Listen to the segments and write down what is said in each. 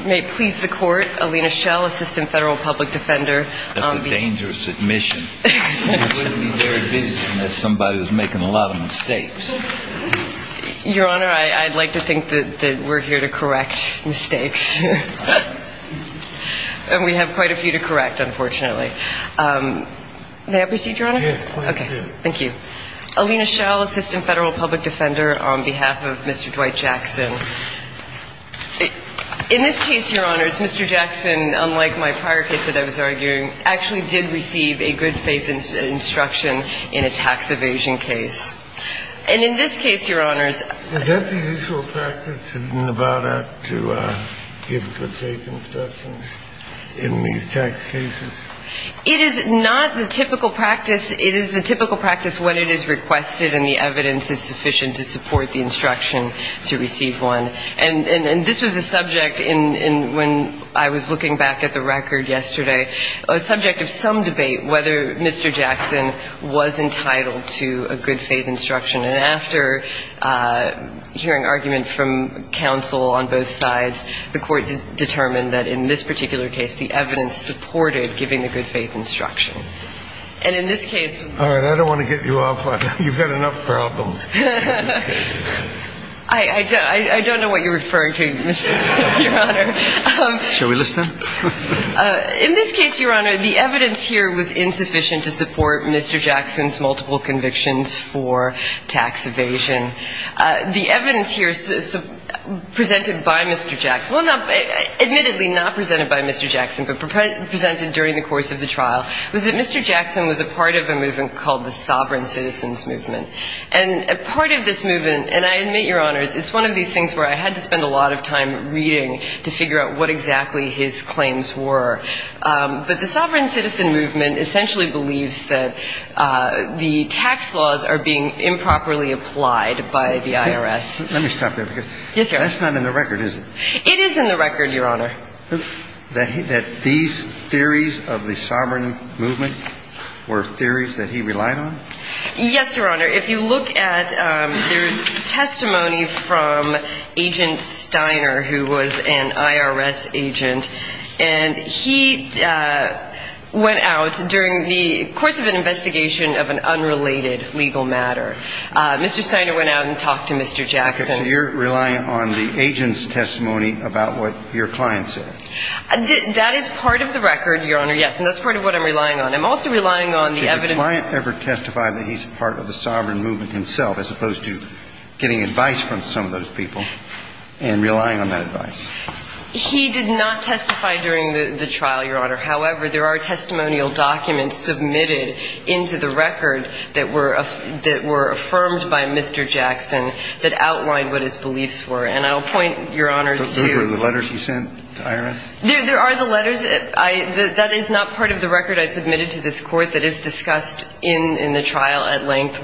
May it please the court, Alina Schell, Assistant Federal Public Defender. That's a dangerous admission. You wouldn't be very vigilant if somebody was making a lot of mistakes. Your Honor, I'd like to think that we're here to correct mistakes. And we have quite a few to correct, unfortunately. May I proceed, Your Honor? Yes, please do. Thank you. Alina Schell, Assistant Federal Public Defender, on behalf of Mr. Dwight Jackson. In this case, Your Honors, Mr. Jackson, unlike my prior case that I was arguing, actually did receive a good faith instruction in a tax evasion case. And in this case, Your Honors ---- Is that the usual practice in Nevada to give good faith instructions in these tax cases? It is not the typical practice. It is the typical practice when it is requested and the evidence is sufficient to support the instruction to receive one. And this was a subject in when I was looking back at the record yesterday, a subject of some debate whether Mr. Jackson was entitled to a good faith instruction. And after hearing argument from counsel on both sides, the court determined that in this particular case the evidence supported giving the good faith instruction. And in this case ---- All right. I don't want to get you off on that. You've got enough problems in this case. I don't know what you're referring to, Your Honor. Shall we listen? In this case, Your Honor, the evidence here was insufficient to support Mr. Jackson's multiple convictions for tax evasion. The evidence here presented by Mr. Jackson, well, admittedly not presented by Mr. Jackson, but presented during the course of the trial, was that Mr. Jackson was a part of a movement called the Sovereign Citizens Movement. And part of this movement, and I admit, Your Honors, it's one of these things where I had to spend a lot of time reading to figure out what exactly his claims were. But the Sovereign Citizen Movement essentially believes that the tax laws are being improperly applied by the IRS. Let me stop there. Yes, sir. That's not in the record, is it? It is in the record, Your Honor. That these theories of the Sovereign Movement were theories that he relied on? Yes, Your Honor. If you look at, there's testimony from Agent Steiner, who was an IRS agent. And he went out during the course of an investigation of an unrelated legal matter. Mr. Steiner went out and talked to Mr. Jackson. Okay. So you're relying on the agent's testimony about what your client said? That is part of the record, Your Honor, yes. And that's part of what I'm relying on. I'm also relying on the evidence. Did your client ever testify that he's part of the Sovereign Movement himself, as opposed to getting advice from some of those people and relying on that advice? He did not testify during the trial, Your Honor. However, there are testimonial documents submitted into the record that were affirmed by Mr. Jackson that outlined what his beliefs were. And I'll point, Your Honors, to the letters he sent to the IRS? There are the letters. That is not part of the record I submitted to this Court that is discussed in the trial at length,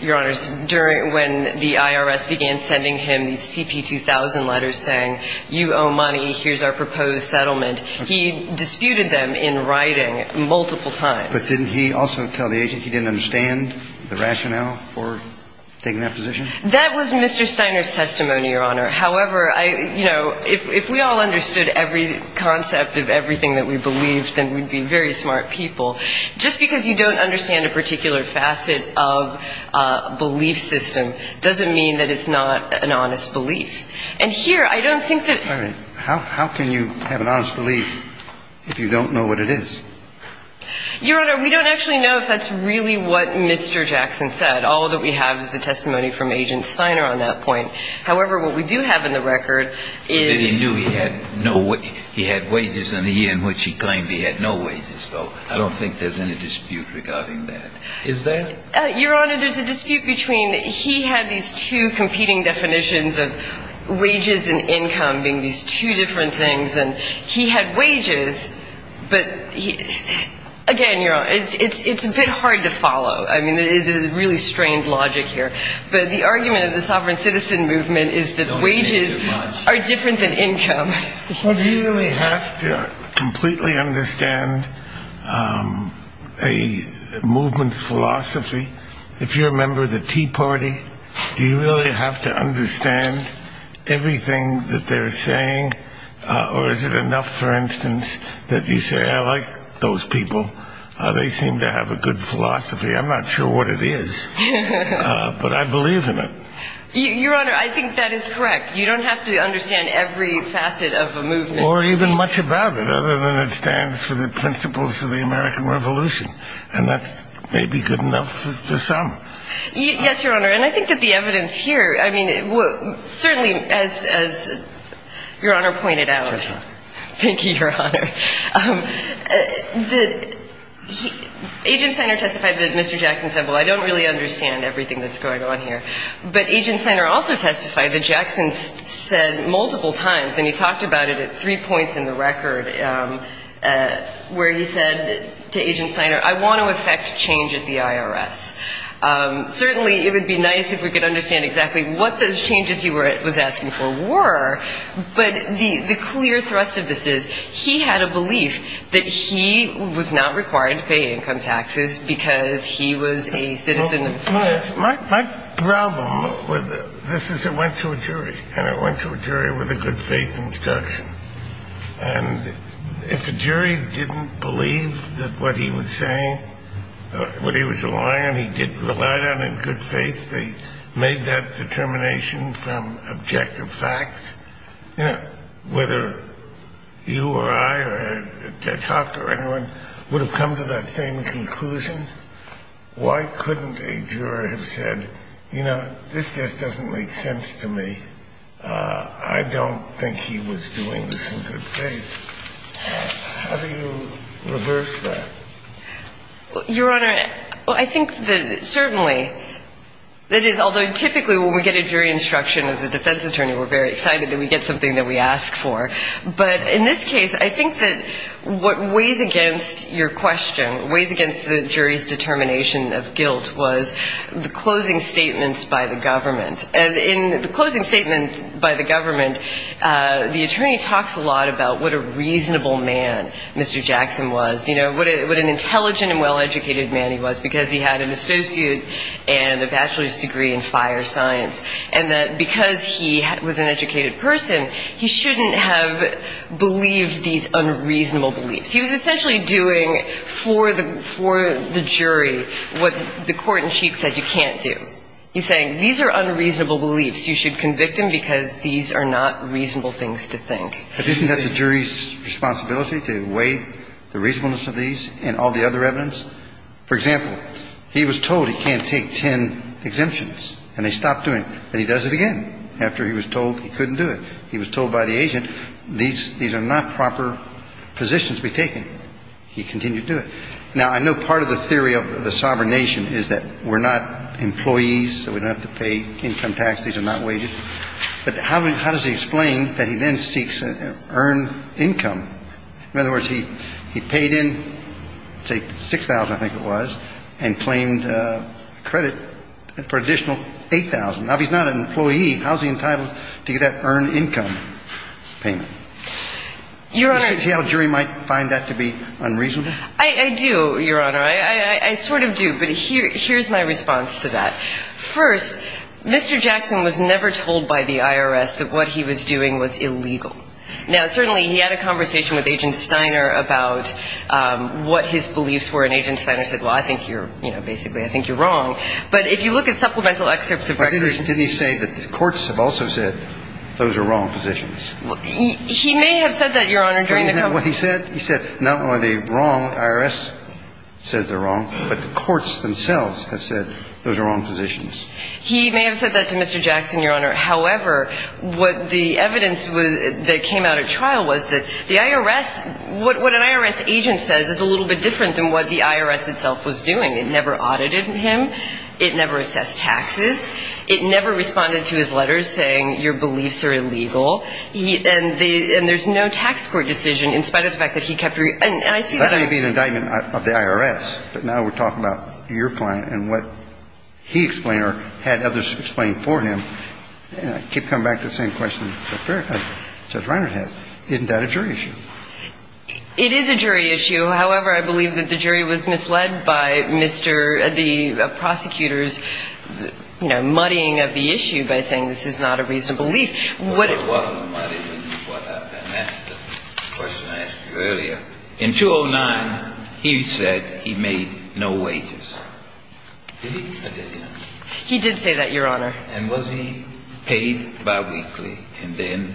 Your Honors, when the IRS began sending him these CP-2000 letters saying, you owe money, here's our proposed settlement. He disputed them in writing multiple times. But didn't he also tell the agent he didn't understand the rationale for taking that position? That was Mr. Steiner's testimony, Your Honor. However, I, you know, if we all understood every concept of everything that we believed, then we'd be very smart people. Just because you don't understand a particular facet of a belief system doesn't mean that it's not an honest belief. And here, I don't think that ---- All right. How can you have an honest belief if you don't know what it is? Your Honor, we don't actually know if that's really what Mr. Jackson said. All that we have is the testimony from Agent Steiner on that point. However, what we do have in the record is ---- But he knew he had no ---- he had wages in the year in which he claimed he had no wages, though. I don't think there's any dispute regarding that. Is there? Your Honor, there's a dispute between ---- he had these two competing definitions of wages and income being these two different things. And he had wages, but he ---- again, Your Honor, it's a bit hard to follow. I mean, it is a really strained logic here. But the argument of the sovereign citizen movement is that wages are different than income. So do you really have to completely understand a movement's philosophy? If you're a member of the Tea Party, do you really have to understand everything that they're saying? Or is it enough, for instance, that you say, I like those people? They seem to have a good philosophy. I'm not sure what it is. But I believe in it. Your Honor, I think that is correct. You don't have to understand every facet of a movement. Or even much about it, other than it stands for the principles of the American Revolution. And that may be good enough to some. Yes, Your Honor. And I think that the evidence here, I mean, certainly as Your Honor pointed out ---- That's right. Thank you, Your Honor. Agent Steiner testified that Mr. Jackson said, well, I don't really understand everything that's going on here. But Agent Steiner also testified that Jackson said multiple times, and he talked about it at three points in the record, where he said to Agent Steiner, I want to effect change at the IRS. Certainly it would be nice if we could understand exactly what those changes he was asking for were. But the clear thrust of this is he had a belief that he was not required to pay income taxes because he was a citizen of the U.S. My problem with this is it went to a jury, and it went to a jury with a good-faith instruction. And if a jury didn't believe that what he was saying, what he was relying on, he didn't rely on in good faith, they made that determination from objective facts, whether you or I or Ted Hawk or anyone would have come to that same conclusion, why couldn't a juror have said, you know, this just doesn't make sense to me. I don't think he was doing this in good faith. How do you reverse that? Your Honor, I think that certainly that is, although typically when we get a jury instruction as a defense attorney, we're very excited that we get something that we ask for. But in this case, I think that what weighs against your question, weighs against the jury's determination of guilt was the closing statements by the government. And in the closing statement by the government, the attorney talks a lot about what a reasonable man Mr. Jackson was, you know, what an intelligent and well-educated man he was because he had an associate and a bachelor's degree in fire science, and that because he was an educated person, he shouldn't have believed these unreasonable beliefs. He was essentially doing for the jury what the court in sheet said you can't do. He's saying these are unreasonable beliefs. You should convict him because these are not reasonable things to think. But isn't that the jury's responsibility to weigh the reasonableness of these and all the other evidence? For example, he was told he can't take ten exemptions, and they stopped doing it. Then he does it again after he was told he couldn't do it. He was told by the agent these are not proper positions to be taken. He continued to do it. Now, I know part of the theory of the sovereign nation is that we're not employees, that we don't have to pay income tax, these are not wages. But how does he explain that he then seeks to earn income? In other words, he paid in, say, $6,000, I think it was, and claimed credit for an additional $8,000. Now, if he's not an employee, how is he entitled to get that earned income payment? Your Honor. Do you see how a jury might find that to be unreasonable? I do, Your Honor. I sort of do. But here's my response to that. First, Mr. Jackson was never told by the IRS that what he was doing was illegal. Now, certainly he had a conversation with Agent Steiner about what his beliefs were, and Agent Steiner said, well, I think you're, you know, basically I think you're wrong. But if you look at supplemental excerpts of records. Didn't he say that the courts have also said those are wrong positions? He may have said that, Your Honor, during the conference. He said not only are they wrong, the IRS says they're wrong, but the courts themselves have said those are wrong positions. He may have said that to Mr. Jackson, Your Honor. However, what the evidence that came out at trial was that the IRS, what an IRS agent says is a little bit different than what the IRS itself was doing. It never audited him. It never assessed taxes. It never responded to his letters saying your beliefs are illegal. And there's no tax court decision in spite of the fact that he kept your, and I see that. So that may be an indictment of the IRS, but now we're talking about your client and what he explained or had others explain for him. And I keep coming back to the same question that Judge Reiner has. Isn't that a jury issue? It is a jury issue. However, I believe that the jury was misled by Mr. the prosecutor's, you know, muddying of the issue by saying this is not a reasonable belief. And that's the question I asked you earlier. In 209, he said he made no wages. Did he or did he not? He did say that, Your Honor. And was he paid biweekly and then,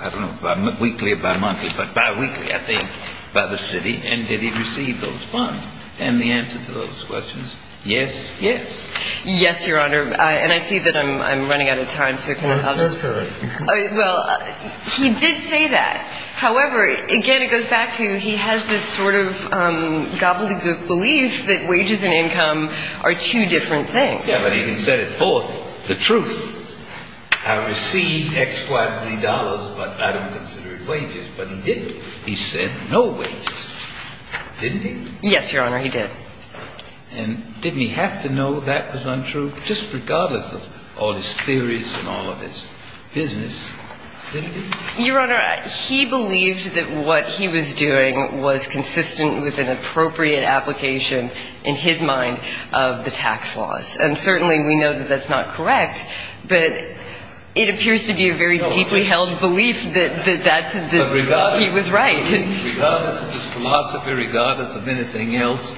I don't know, weekly or bimonthly, but biweekly, I think, by the city? And did he receive those funds? And the answer to those questions, yes, he did. Yes, Your Honor. And I see that I'm running out of time. Well, he did say that. However, again, it goes back to he has this sort of gobbledygook belief that wages and income are two different things. Yeah, but he can set it forth. The truth. I received X, Y, Z dollars, but I don't consider it wages. But he didn't. He said no wages. Didn't he? Yes, Your Honor, he did. And didn't he have to know that was untrue, just regardless of all his theories and all of his business? Didn't he? Your Honor, he believed that what he was doing was consistent with an appropriate application in his mind of the tax laws. And certainly we know that that's not correct, but it appears to be a very deeply held belief that that's what he was right. Regardless of his philosophy, regardless of anything else,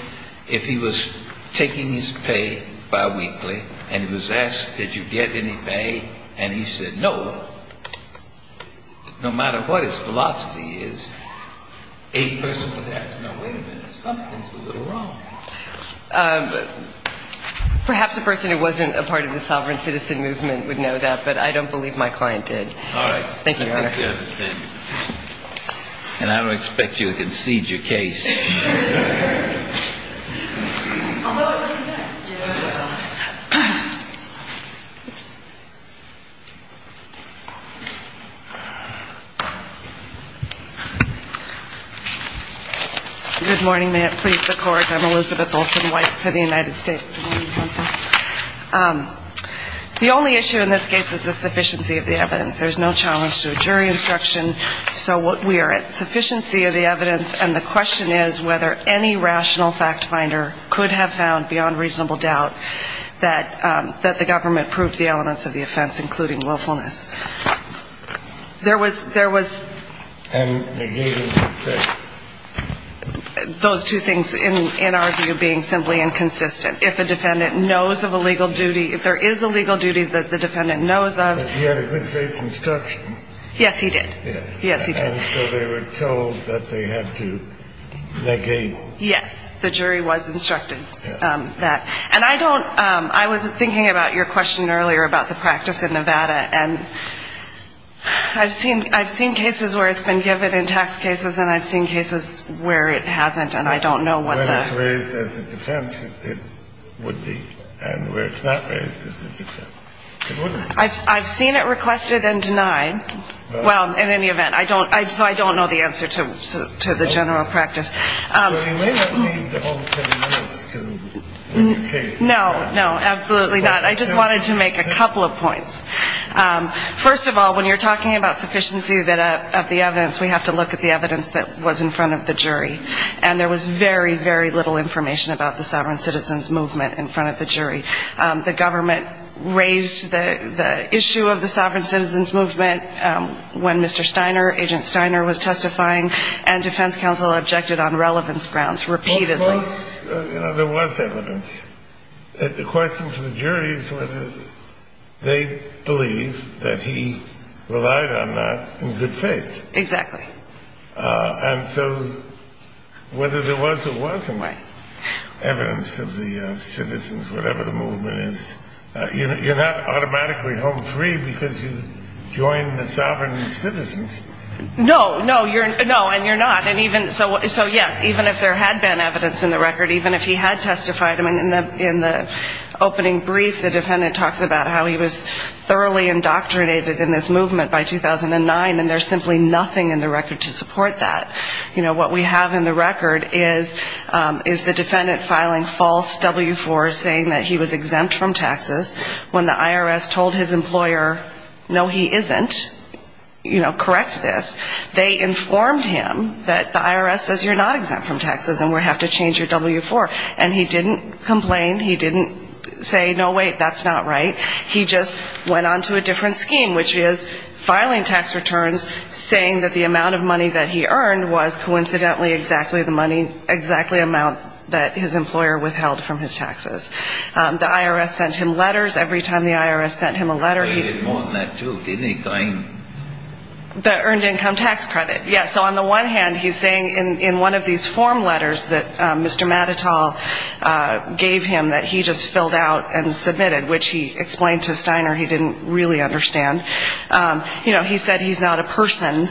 if he was taking his pay biweekly and he was asked, did you get any pay, and he said no, no matter what his philosophy is, a person would ask, no, wait a minute, something's a little wrong. Perhaps a person who wasn't a part of the sovereign citizen movement would know that, but I don't believe my client did. All right. Thank you, Your Honor. And I don't expect you to concede your case. Good morning. May it please the Court. I'm Elizabeth Olsen-White for the United States Supreme Court. The only issue in this case is the sufficiency of the evidence. There's no challenge to a jury instruction. So we are at sufficiency of the evidence, and the question is, is it sufficient? The question is whether any rational fact finder could have found beyond reasonable doubt that the government proved the elements of the offense, including willfulness. There was those two things in our view being simply inconsistent. If a defendant knows of a legal duty, if there is a legal duty that the defendant knows of. But he had a good faith instruction. Yes, he did. Yes, he did. And so they were told that they had to negate. Yes, the jury was instructed that. And I don't ‑‑ I was thinking about your question earlier about the practice in Nevada, and I've seen cases where it's been given in tax cases, and I've seen cases where it hasn't, and I don't know what the ‑‑ Where it's raised as a defense, it would be. And where it's not raised as a defense, it wouldn't be. I've seen it requested and denied. Well, in any event, I don't ‑‑ so I don't know the answer to the general practice. Well, you may not need all 10 minutes to educate. No, no, absolutely not. I just wanted to make a couple of points. First of all, when you're talking about sufficiency of the evidence, we have to look at the evidence that was in front of the jury. And there was very, very little information about the sovereign citizens movement in front of the jury. The government raised the issue of the sovereign citizens movement when Mr. Steiner, Agent Steiner, was testifying, and defense counsel objected on relevance grounds repeatedly. Well, of course, you know, there was evidence. The question for the jury is whether they believe that he relied on that in good faith. Exactly. And so whether there was or wasn't evidence of the citizens, whatever the movement is, you're not automatically home free because you joined the sovereign citizens. No, no, and you're not. So, yes, even if there had been evidence in the record, even if he had testified, in the opening brief, the defendant talks about how he was thoroughly indoctrinated in this movement by 2009, and there's simply nothing in the record to support that. You know, what we have in the record is the defendant filing false W-4s saying that he was exempt from taxes. When the IRS told his employer, no, he isn't, you know, correct this, they informed him that the IRS says you're not exempt from taxes and we have to change your W-4. And he didn't complain. He didn't say, no, wait, that's not right. He just went on to a different scheme, which is filing tax returns, saying that the amount of money that he earned was coincidentally exactly the money, exactly the amount that his employer withheld from his taxes. The IRS sent him letters. Every time the IRS sent him a letter, he- They did more than that, too, didn't they? Going- The earned income tax credit, yes. So on the one hand, he's saying in one of these form letters that Mr. Matatal gave him that he just filled out and submitted, which he explained to Steiner he didn't really understand. You know, he said he's not a person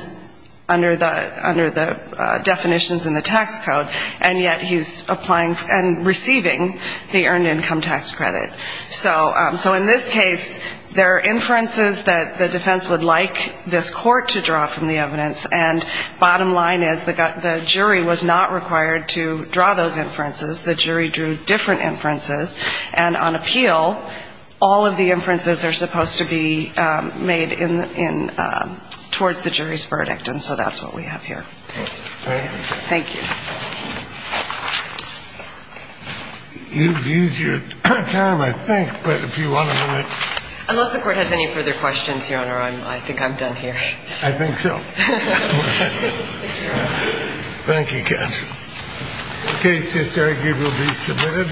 under the definitions in the tax code, and yet he's applying and receiving the earned income tax credit. So in this case, there are inferences that the defense would like this court to draw from the evidence, and bottom line is the jury was not required to draw those inferences. The jury drew different inferences, and on appeal, all of the inferences are supposed to be made towards the jury's verdict, and so that's what we have here. Thank you. Thank you. You've used your time, I think, but if you want to- Unless the Court has any further questions, Your Honor, I think I'm done here. I think so. Thank you, counsel. The case is here and will be submitted.